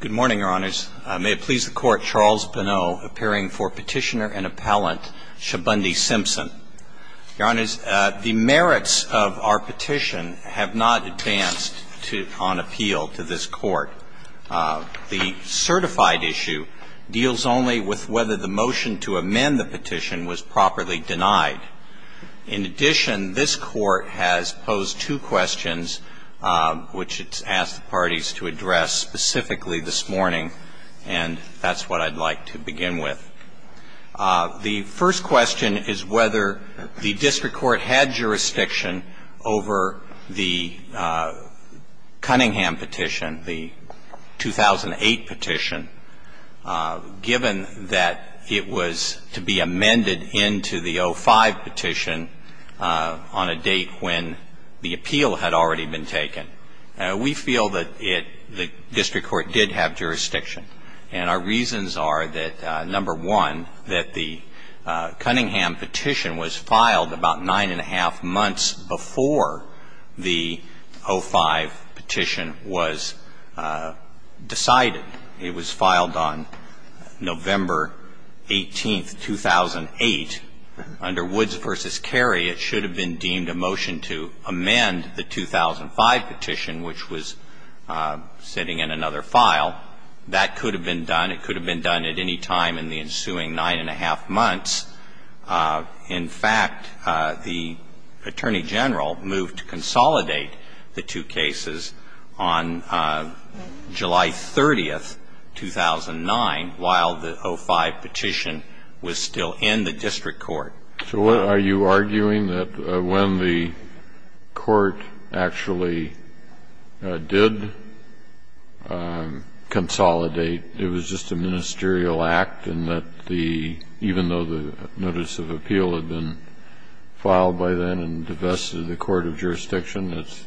Good morning, your honors. May it please the court, Charles Bonneau, appearing for petitioner and appellant Shabondy Simpson. Your honors, the merits of our petition have not advanced on appeal to this court. The certified issue deals only with whether the motion to amend the petition was properly denied. In addition, this court has posed two questions, which it's asked the parties to address specifically this morning. And that's what I'd like to begin with. The first question is whether the district court had jurisdiction over the Cunningham petition, the 2008 petition. Given that it was to be amended into the 2005 petition on a date when the appeal had already been taken, we feel that the district court did have jurisdiction. And our reasons are that, number one, that the Cunningham petition was filed about nine and a half months before the 2005 petition was decided. It was filed on November 18, 2008. Under Woods v. Carey, it should have been deemed a motion to amend the 2005 petition, which was sitting in another file. That could have been done. It could have been done at any time in the ensuing nine and a half months. In fact, the Attorney General moved to consolidate the two cases on July 30, 2009, while the 2005 petition was still in the district court. So are you arguing that when the court actually did consolidate, it was just a ministerial act and that the � even though the notice of appeal had been filed by then and divested, the court of jurisdiction is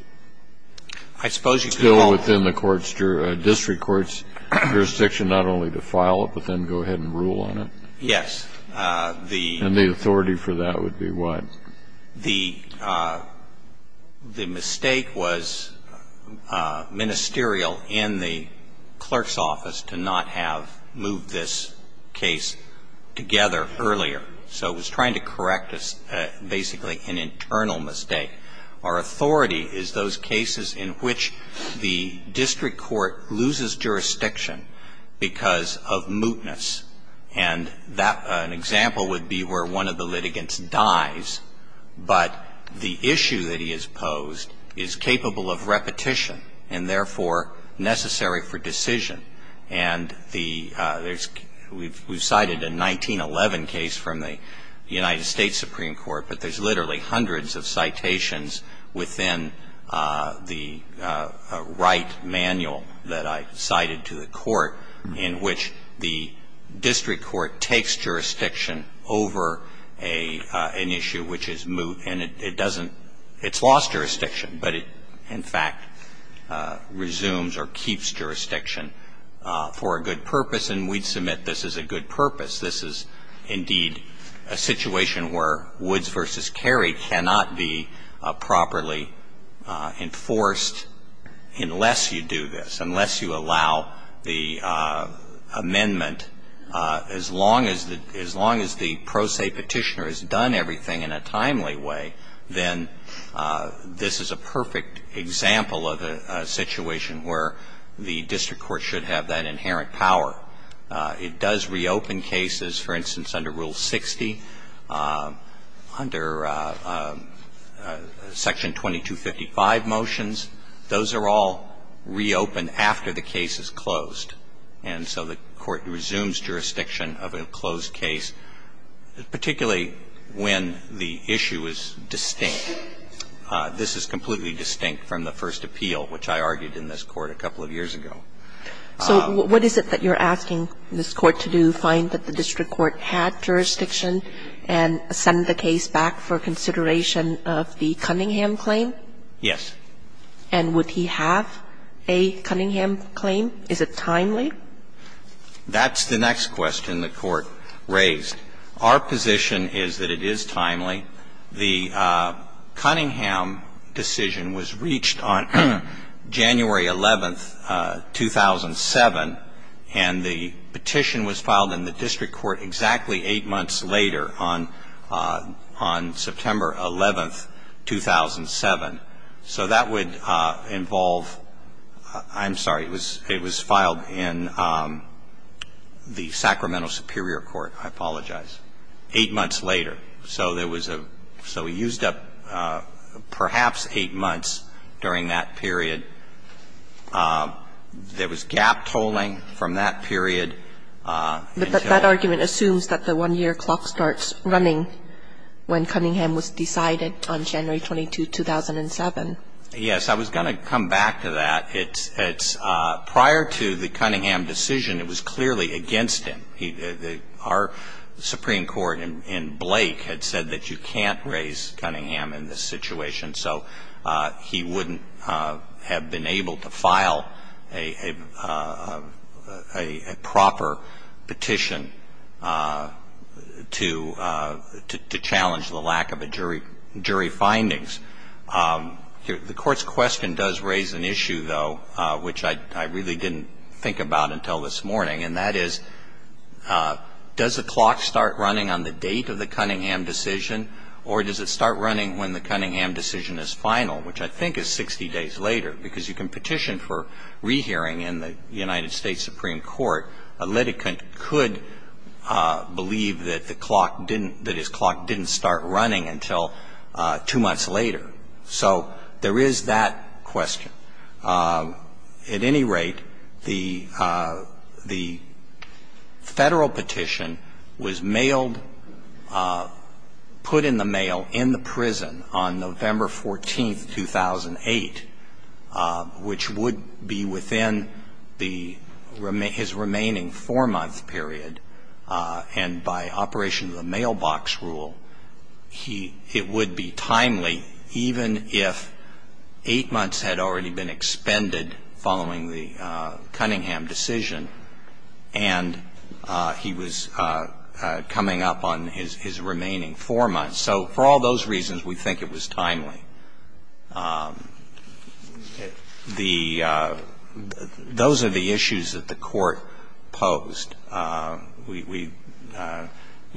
still within the district court's jurisdiction not only to file it, but then go ahead and rule on it? Yes. And the authority for that would be what? The mistake was ministerial in the clerk's office to not have moved this case consolidated. So it was trying to correct basically an internal mistake. Our authority is those cases in which the district court loses jurisdiction because of mootness. And that � an example would be where one of the litigants dies, but the issue that he has posed is capable of repetition and, therefore, necessary for decision. And the � there's � we've cited a 1911 case from the United States Supreme Court, but there's literally hundreds of citations within the right manual that I cited to the court in which the district court takes jurisdiction over the case, and the district court takes jurisdiction over the case. And it doesn't � it's lost jurisdiction, but it, in fact, resumes or keeps jurisdiction for a good purpose. And that's what we're trying to do. We're trying to make sure that the district court doesn't lose jurisdiction over the case. And that's what we're trying to do. This is, indeed, a situation where Woods v. Cary cannot be properly enforced unless you do this, unless you allow the amendment. As long as the � as long as the pro se Petitioner has done everything in a timely way, then there's no reason for it to be enforced. As long as the pro se Petitioner has done everything in a timely way, then this is a perfect example of a situation where the district court should have that inherent power. It does reopen cases, for instance, under Rule 60, under Section 2255 motions. Those are all reopened after the case is closed. And so the Court resumes jurisdiction of a closed case, particularly when the issue is distinct. This is completely distinct from the first appeal, which I argued in this Court a couple of years ago. Kagan. So what is it that you're asking this Court to do, find that the district court had jurisdiction and send the case back for consideration of the Cunningham claim? Yes. And would he have a Cunningham claim? Is it timely? That's the next question the Court raised. Our position is that it is timely. The Cunningham decision was reached on January 11, 2007, and the petition was filed in the district court exactly 8 months later, on September 11, 2007. So that would involve – I'm sorry. It was filed in the Sacramento Superior Court. I apologize. 8 months later. So there was a – so he used up perhaps 8 months during that period. There was gap tolling from that period. But that argument assumes that the 1-year clock starts running when Cunningham was decided on January 22, 2007. Yes. I was going to come back to that. It's – prior to the Cunningham decision, it was clearly against him. Our Supreme Court in Blake had said that you can't raise Cunningham in this situation. So he wouldn't have been able to file a proper petition to challenge the lack of a jury findings. The Court's question does raise an issue, though, which I really didn't think about until this morning, and that is, does the clock start running on the date of the Cunningham decision, or does it start running when the Cunningham decision is final, which I think is 60 days later, because you can petition for rehearing in the United States Supreme Court. A litigant could believe that the clock didn't – that his clock didn't start running until 2 months later. So there is that question. I don't believe that the Cunningham decision would have had any effect on the court's decision. At any rate, the Federal petition was mailed – put in the mail in the prison on November 14, 2008, which would be within the – his remaining 4-month period. And by operation of the mailbox rule, he – it would be timely even if 8 months had already been expended following the Cunningham decision and he was coming up on his remaining 4 months. So for all those reasons, we think it was timely. The – those are the issues that the Court posed. We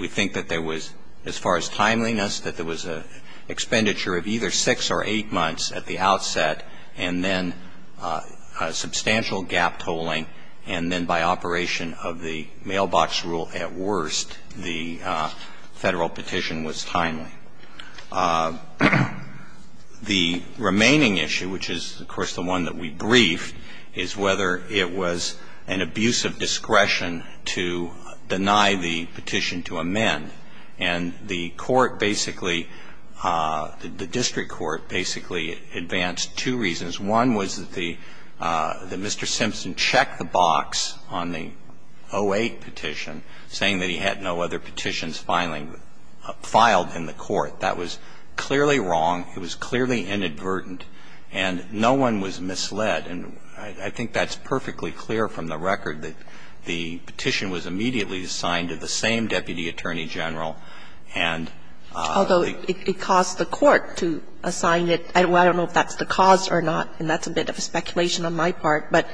think that there was, as far as timeliness, that there was an expenditure of either 6 or 8 months at the outset, and then substantial gap tolling, and then by operation of the mailbox rule at worst, the Federal petition was timely. The remaining issue, which is, of course, the one that we briefed, is whether it was an abuse of discretion to deny the petition to amend. And the court basically – the district court basically advanced two reasons. One was that the – that Mr. Simpson checked the box on the 08 petition, saying that he had no other petitions filing – filed in the court. That was clearly wrong. It was clearly inadvertent. And no one was misled. And I think that's perfectly clear from the record that the petition was immediately assigned to the same deputy attorney general, and the – to the district court, to assign it. I don't know if that's the cause or not, and that's a bit of a speculation on my part, but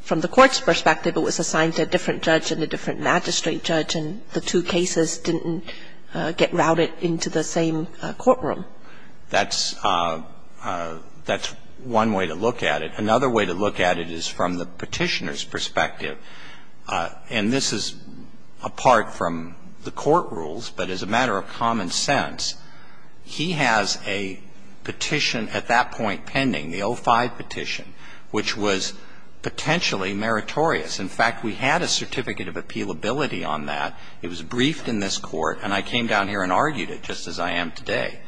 from the court's perspective, it was assigned to a different judge and a different magistrate judge, and the two cases didn't get routed into the same courtroom. That's – that's one way to look at it. Another way to look at it is from the Petitioner's perspective, and this is apart from the court rules, but as a matter of common sense, he has a petition at that point pending, the 05 petition, which was potentially meritorious. In fact, we had a certificate of appealability on that. It was briefed in this Court, and I came down here and argued it, just as I am today.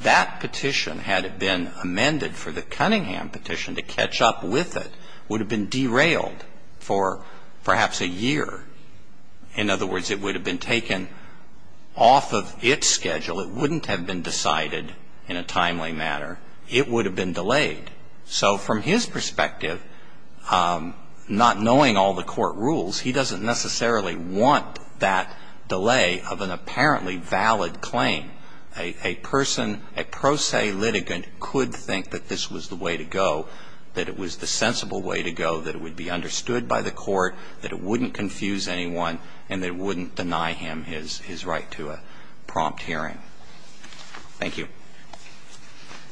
That petition, had it been amended for the Cunningham petition to catch up with it, would have been derailed for perhaps a year. In other words, it would have been taken off of its schedule. It wouldn't have been decided in a timely manner. It would have been delayed. So from his perspective, not knowing all the court rules, he doesn't necessarily want that delay of an apparently valid claim. A person, a pro se litigant could think that this was the way to go, that it was the right to a prompt hearing. Thank you.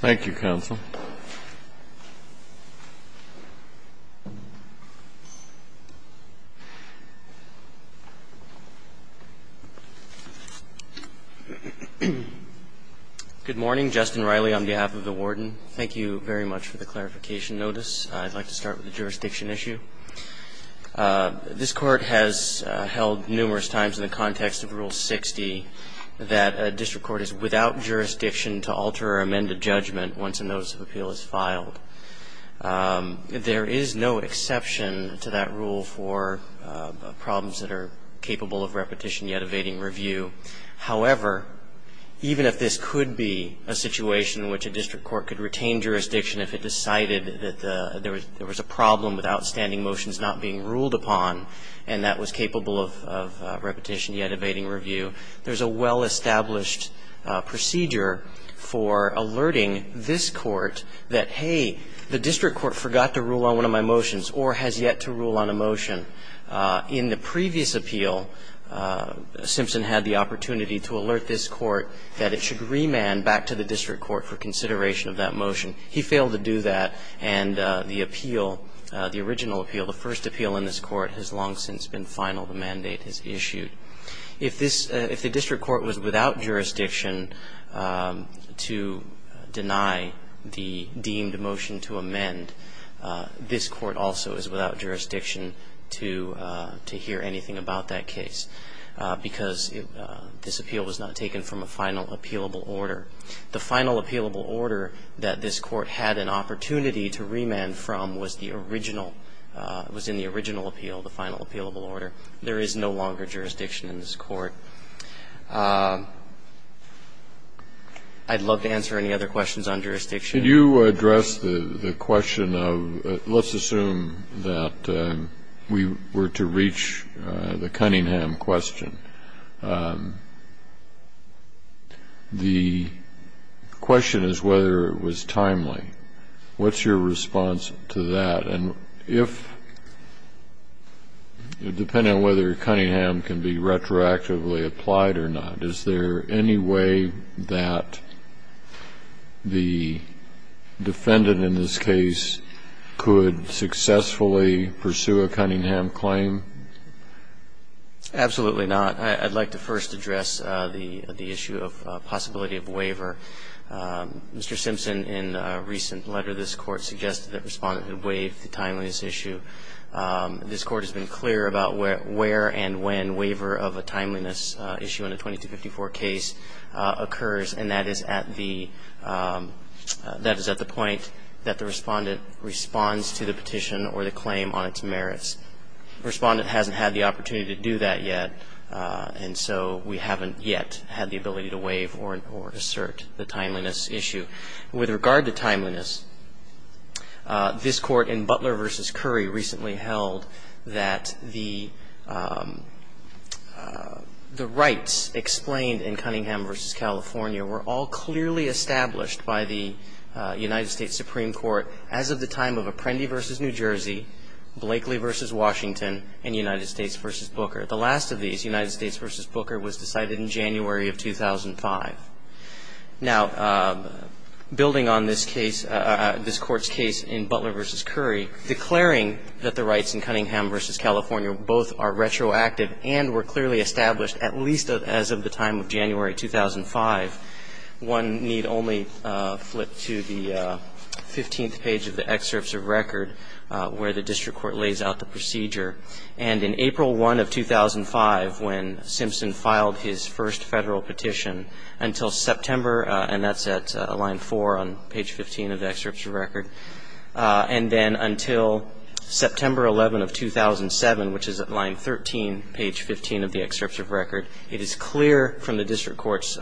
Thank you, counsel. Good morning. Justin Riley on behalf of the Warden. Thank you very much for the clarification notice. I'd like to start with the jurisdiction issue. This Court has held numerous times in the context of Rule 60 that a district court is without jurisdiction to alter or amend a judgment once a notice of appeal is filed. There is no exception to that rule for problems that are capable of repetition yet evading review. However, even if this could be a situation in which a district court could retain jurisdiction if it decided that there was a problem with outstanding motions not being ruled upon and that was capable of repetition yet evading review, there's a well-established procedure for alerting this Court that, hey, the district court forgot to rule on one of my motions or has yet to rule on a motion. In the previous appeal, Simpson had the opportunity to alert this Court that it should remand back to the district court for consideration of that motion. He failed to do that. And the appeal, the original appeal, the first appeal in this Court has long since been final. The mandate is issued. If the district court was without jurisdiction to deny the deemed motion to amend, this Court also is without jurisdiction to hear anything about that case because this appeal was not taken from a final appealable order. The final appealable order that this Court had an opportunity to remand from was the original, was in the original appeal, the final appealable order. There is no longer jurisdiction in this Court. I'd love to answer any other questions on jurisdiction. Can you address the question of, let's assume that we were to reach the Cunningham question. The question is whether it was timely. What's your response to that? And if, depending on whether Cunningham can be retroactively applied or not, is there any way that the defendant in this case could successfully pursue a Cunningham claim? Absolutely not. I'd like to first address the issue of possibility of waiver. Mr. Simpson, in a recent letter, this Court suggested that Respondent would waive the timeliness issue. This Court has been clear about where and when waiver of a timeliness issue in a 2254 case occurs, and that is at the, that is at the point that the Respondent responds to the petition or the claim on its merits. Respondent hasn't had the opportunity to do that yet, and so we haven't yet had the ability to waive or assert the timeliness issue. With regard to timeliness, this Court in Butler v. Curry recently held that the rights explained in Cunningham v. California were all clearly established by the United States Supreme Court as of the time of Apprendi v. New Jersey, Blakely v. Washington and United States v. Booker. The last of these, United States v. Booker, was decided in January of 2005. Now, building on this case, this Court's case in Butler v. Curry, declaring that the as of the time of January 2005, one need only flip to the 15th page of the excerpts of record where the district court lays out the procedure. And in April 1 of 2005, when Simpson filed his first Federal petition, until September and that's at line 4 on page 15 of the excerpts of record, and then until September 11 of 2007, which is at line 13, page 15 of the excerpts of record, it is clear from the district court's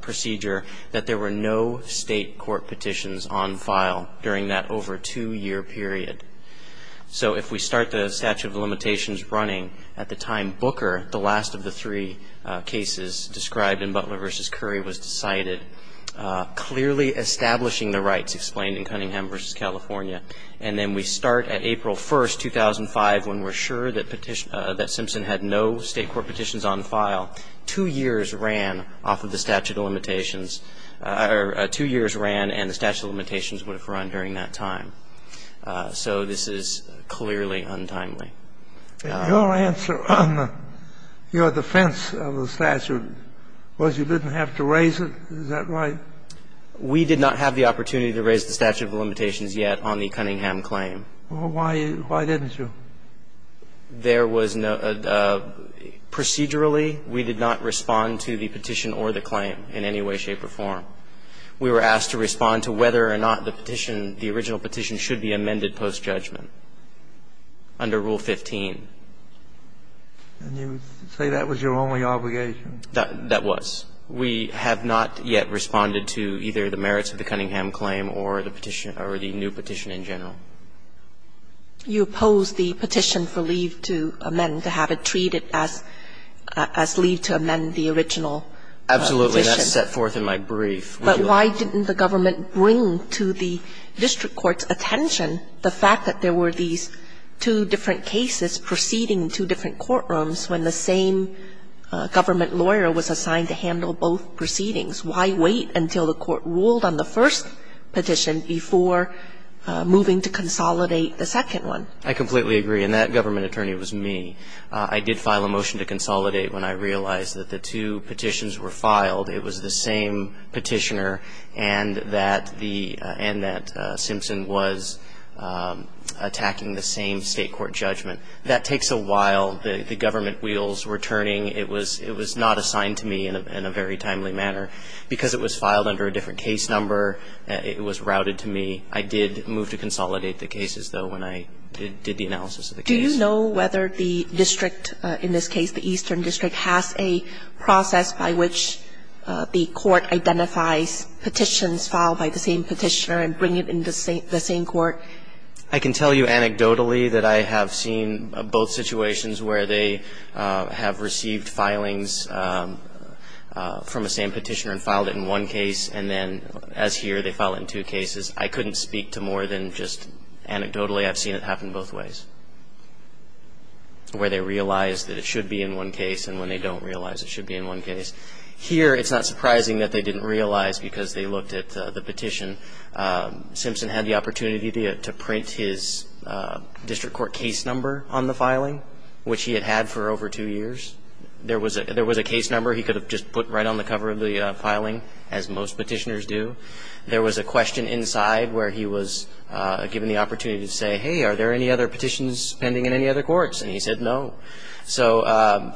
procedure that there were no state court petitions on file during that over two-year period. So if we start the statute of limitations running at the time Booker, the last of the three cases described in Butler v. Curry, was decided, clearly establishing the rights explained in Cunningham v. California, and then we start at April 1, 2005, when we're sure that Simpson had no state court petitions on file, two years ran off of the statute of limitations, or two years ran and the statute of limitations would have run during that time. So this is clearly untimely. And your answer on your defense of the statute was you didn't have to raise it. Is that right? We did not have the opportunity to raise the statute of limitations yet on the Cunningham claim. Well, why didn't you? There was no – procedurally, we did not respond to the petition or the claim in any way, shape or form. We were asked to respond to whether or not the petition, the original petition, should be amended post-judgment under Rule 15. And you say that was your only obligation. That was. We have not yet responded to either the merits of the Cunningham claim or the petition – or the new petition in general. You opposed the petition for leave to amend, to have it treated as leave to amend the original petition. Absolutely. That's set forth in my brief. But why didn't the government bring to the district court's attention the fact that there were these two different cases proceeding in two different courtrooms when the same government lawyer was assigned to handle both proceedings? Why wait until the court ruled on the first petition before moving to consolidate the second one? I completely agree. And that government attorney was me. I did file a motion to consolidate when I realized that the two petitions were filed. It was the same petitioner and that the – and that Simpson was attacking the same state court judgment. That takes a while. The government wheels were turning. It was not assigned to me in a very timely manner. Because it was filed under a different case number, it was routed to me. I did move to consolidate the cases, though, when I did the analysis of the case. Do you know whether the district, in this case the Eastern District, has a process by which the court identifies petitions filed by the same petitioner and bring it in the same court? I can tell you anecdotally that I have seen both situations where they have received filings from the same petitioner and filed it in one case, and then, as here, they file it in two cases. I couldn't speak to more than just anecdotally. I've seen it happen both ways, where they realize that it should be in one case and when they don't realize it should be in one case. Here, it's not surprising that they didn't realize because they looked at the petition. Simpson had the opportunity to print his district court case number on the filing, which he had had for over two years. There was a case number he could have just put right on the cover of the filing, as most petitioners do. There was a question inside where he was given the opportunity to say, hey, are there any other petitions pending in any other courts? And he said no. So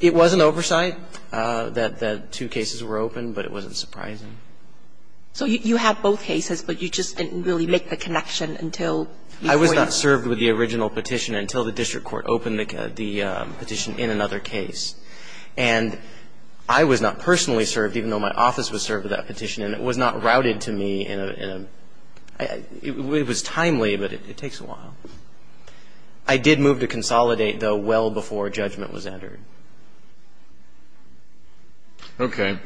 it was an oversight that two cases were open, but it wasn't surprising. So you have both cases, but you just didn't really make the connection until before you ---- I was not served with the original petition until the district court opened the petition in another case. And I was not personally served, even though my office was served with that petition, and it was not routed to me in a ---- it was timely, but it takes a while. I did move to consolidate, though, well before judgment was entered. Okay.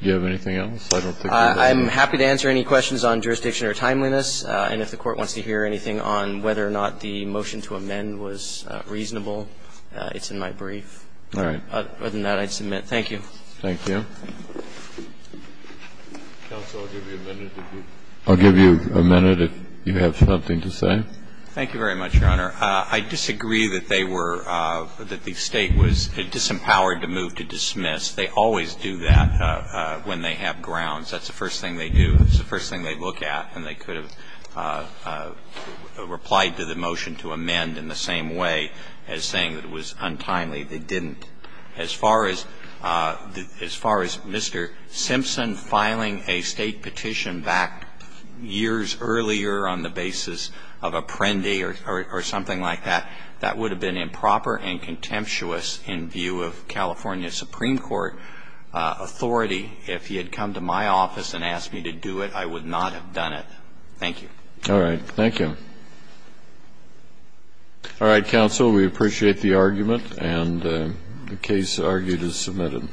Do you have anything else? I don't think we have time. I'm happy to answer any questions on jurisdiction or timeliness. And if the Court wants to hear anything on whether or not the motion to amend was reasonable, it's in my brief. All right. Other than that, I'd submit. Thank you. Thank you. Counsel, I'll give you a minute if you ---- I'll give you a minute if you have something to say. Thank you very much, Your Honor. I disagree that they were ---- that the State was disempowered to move to dismiss. They always do that when they have grounds. That's the first thing they do. It's the first thing they look at, and they could have replied to the motion to amend in the same way as saying that it was untimely. They didn't. As far as Mr. Simpson filing a State petition back years earlier on the basis of Apprendi or something like that, that would have been improper and contemptuous in view of California Supreme Court authority. If he had come to my office and asked me to do it, I would not have done it. Thank you. All right. Thank you. All right, Counsel. We appreciate the argument, and the case argued is submitted.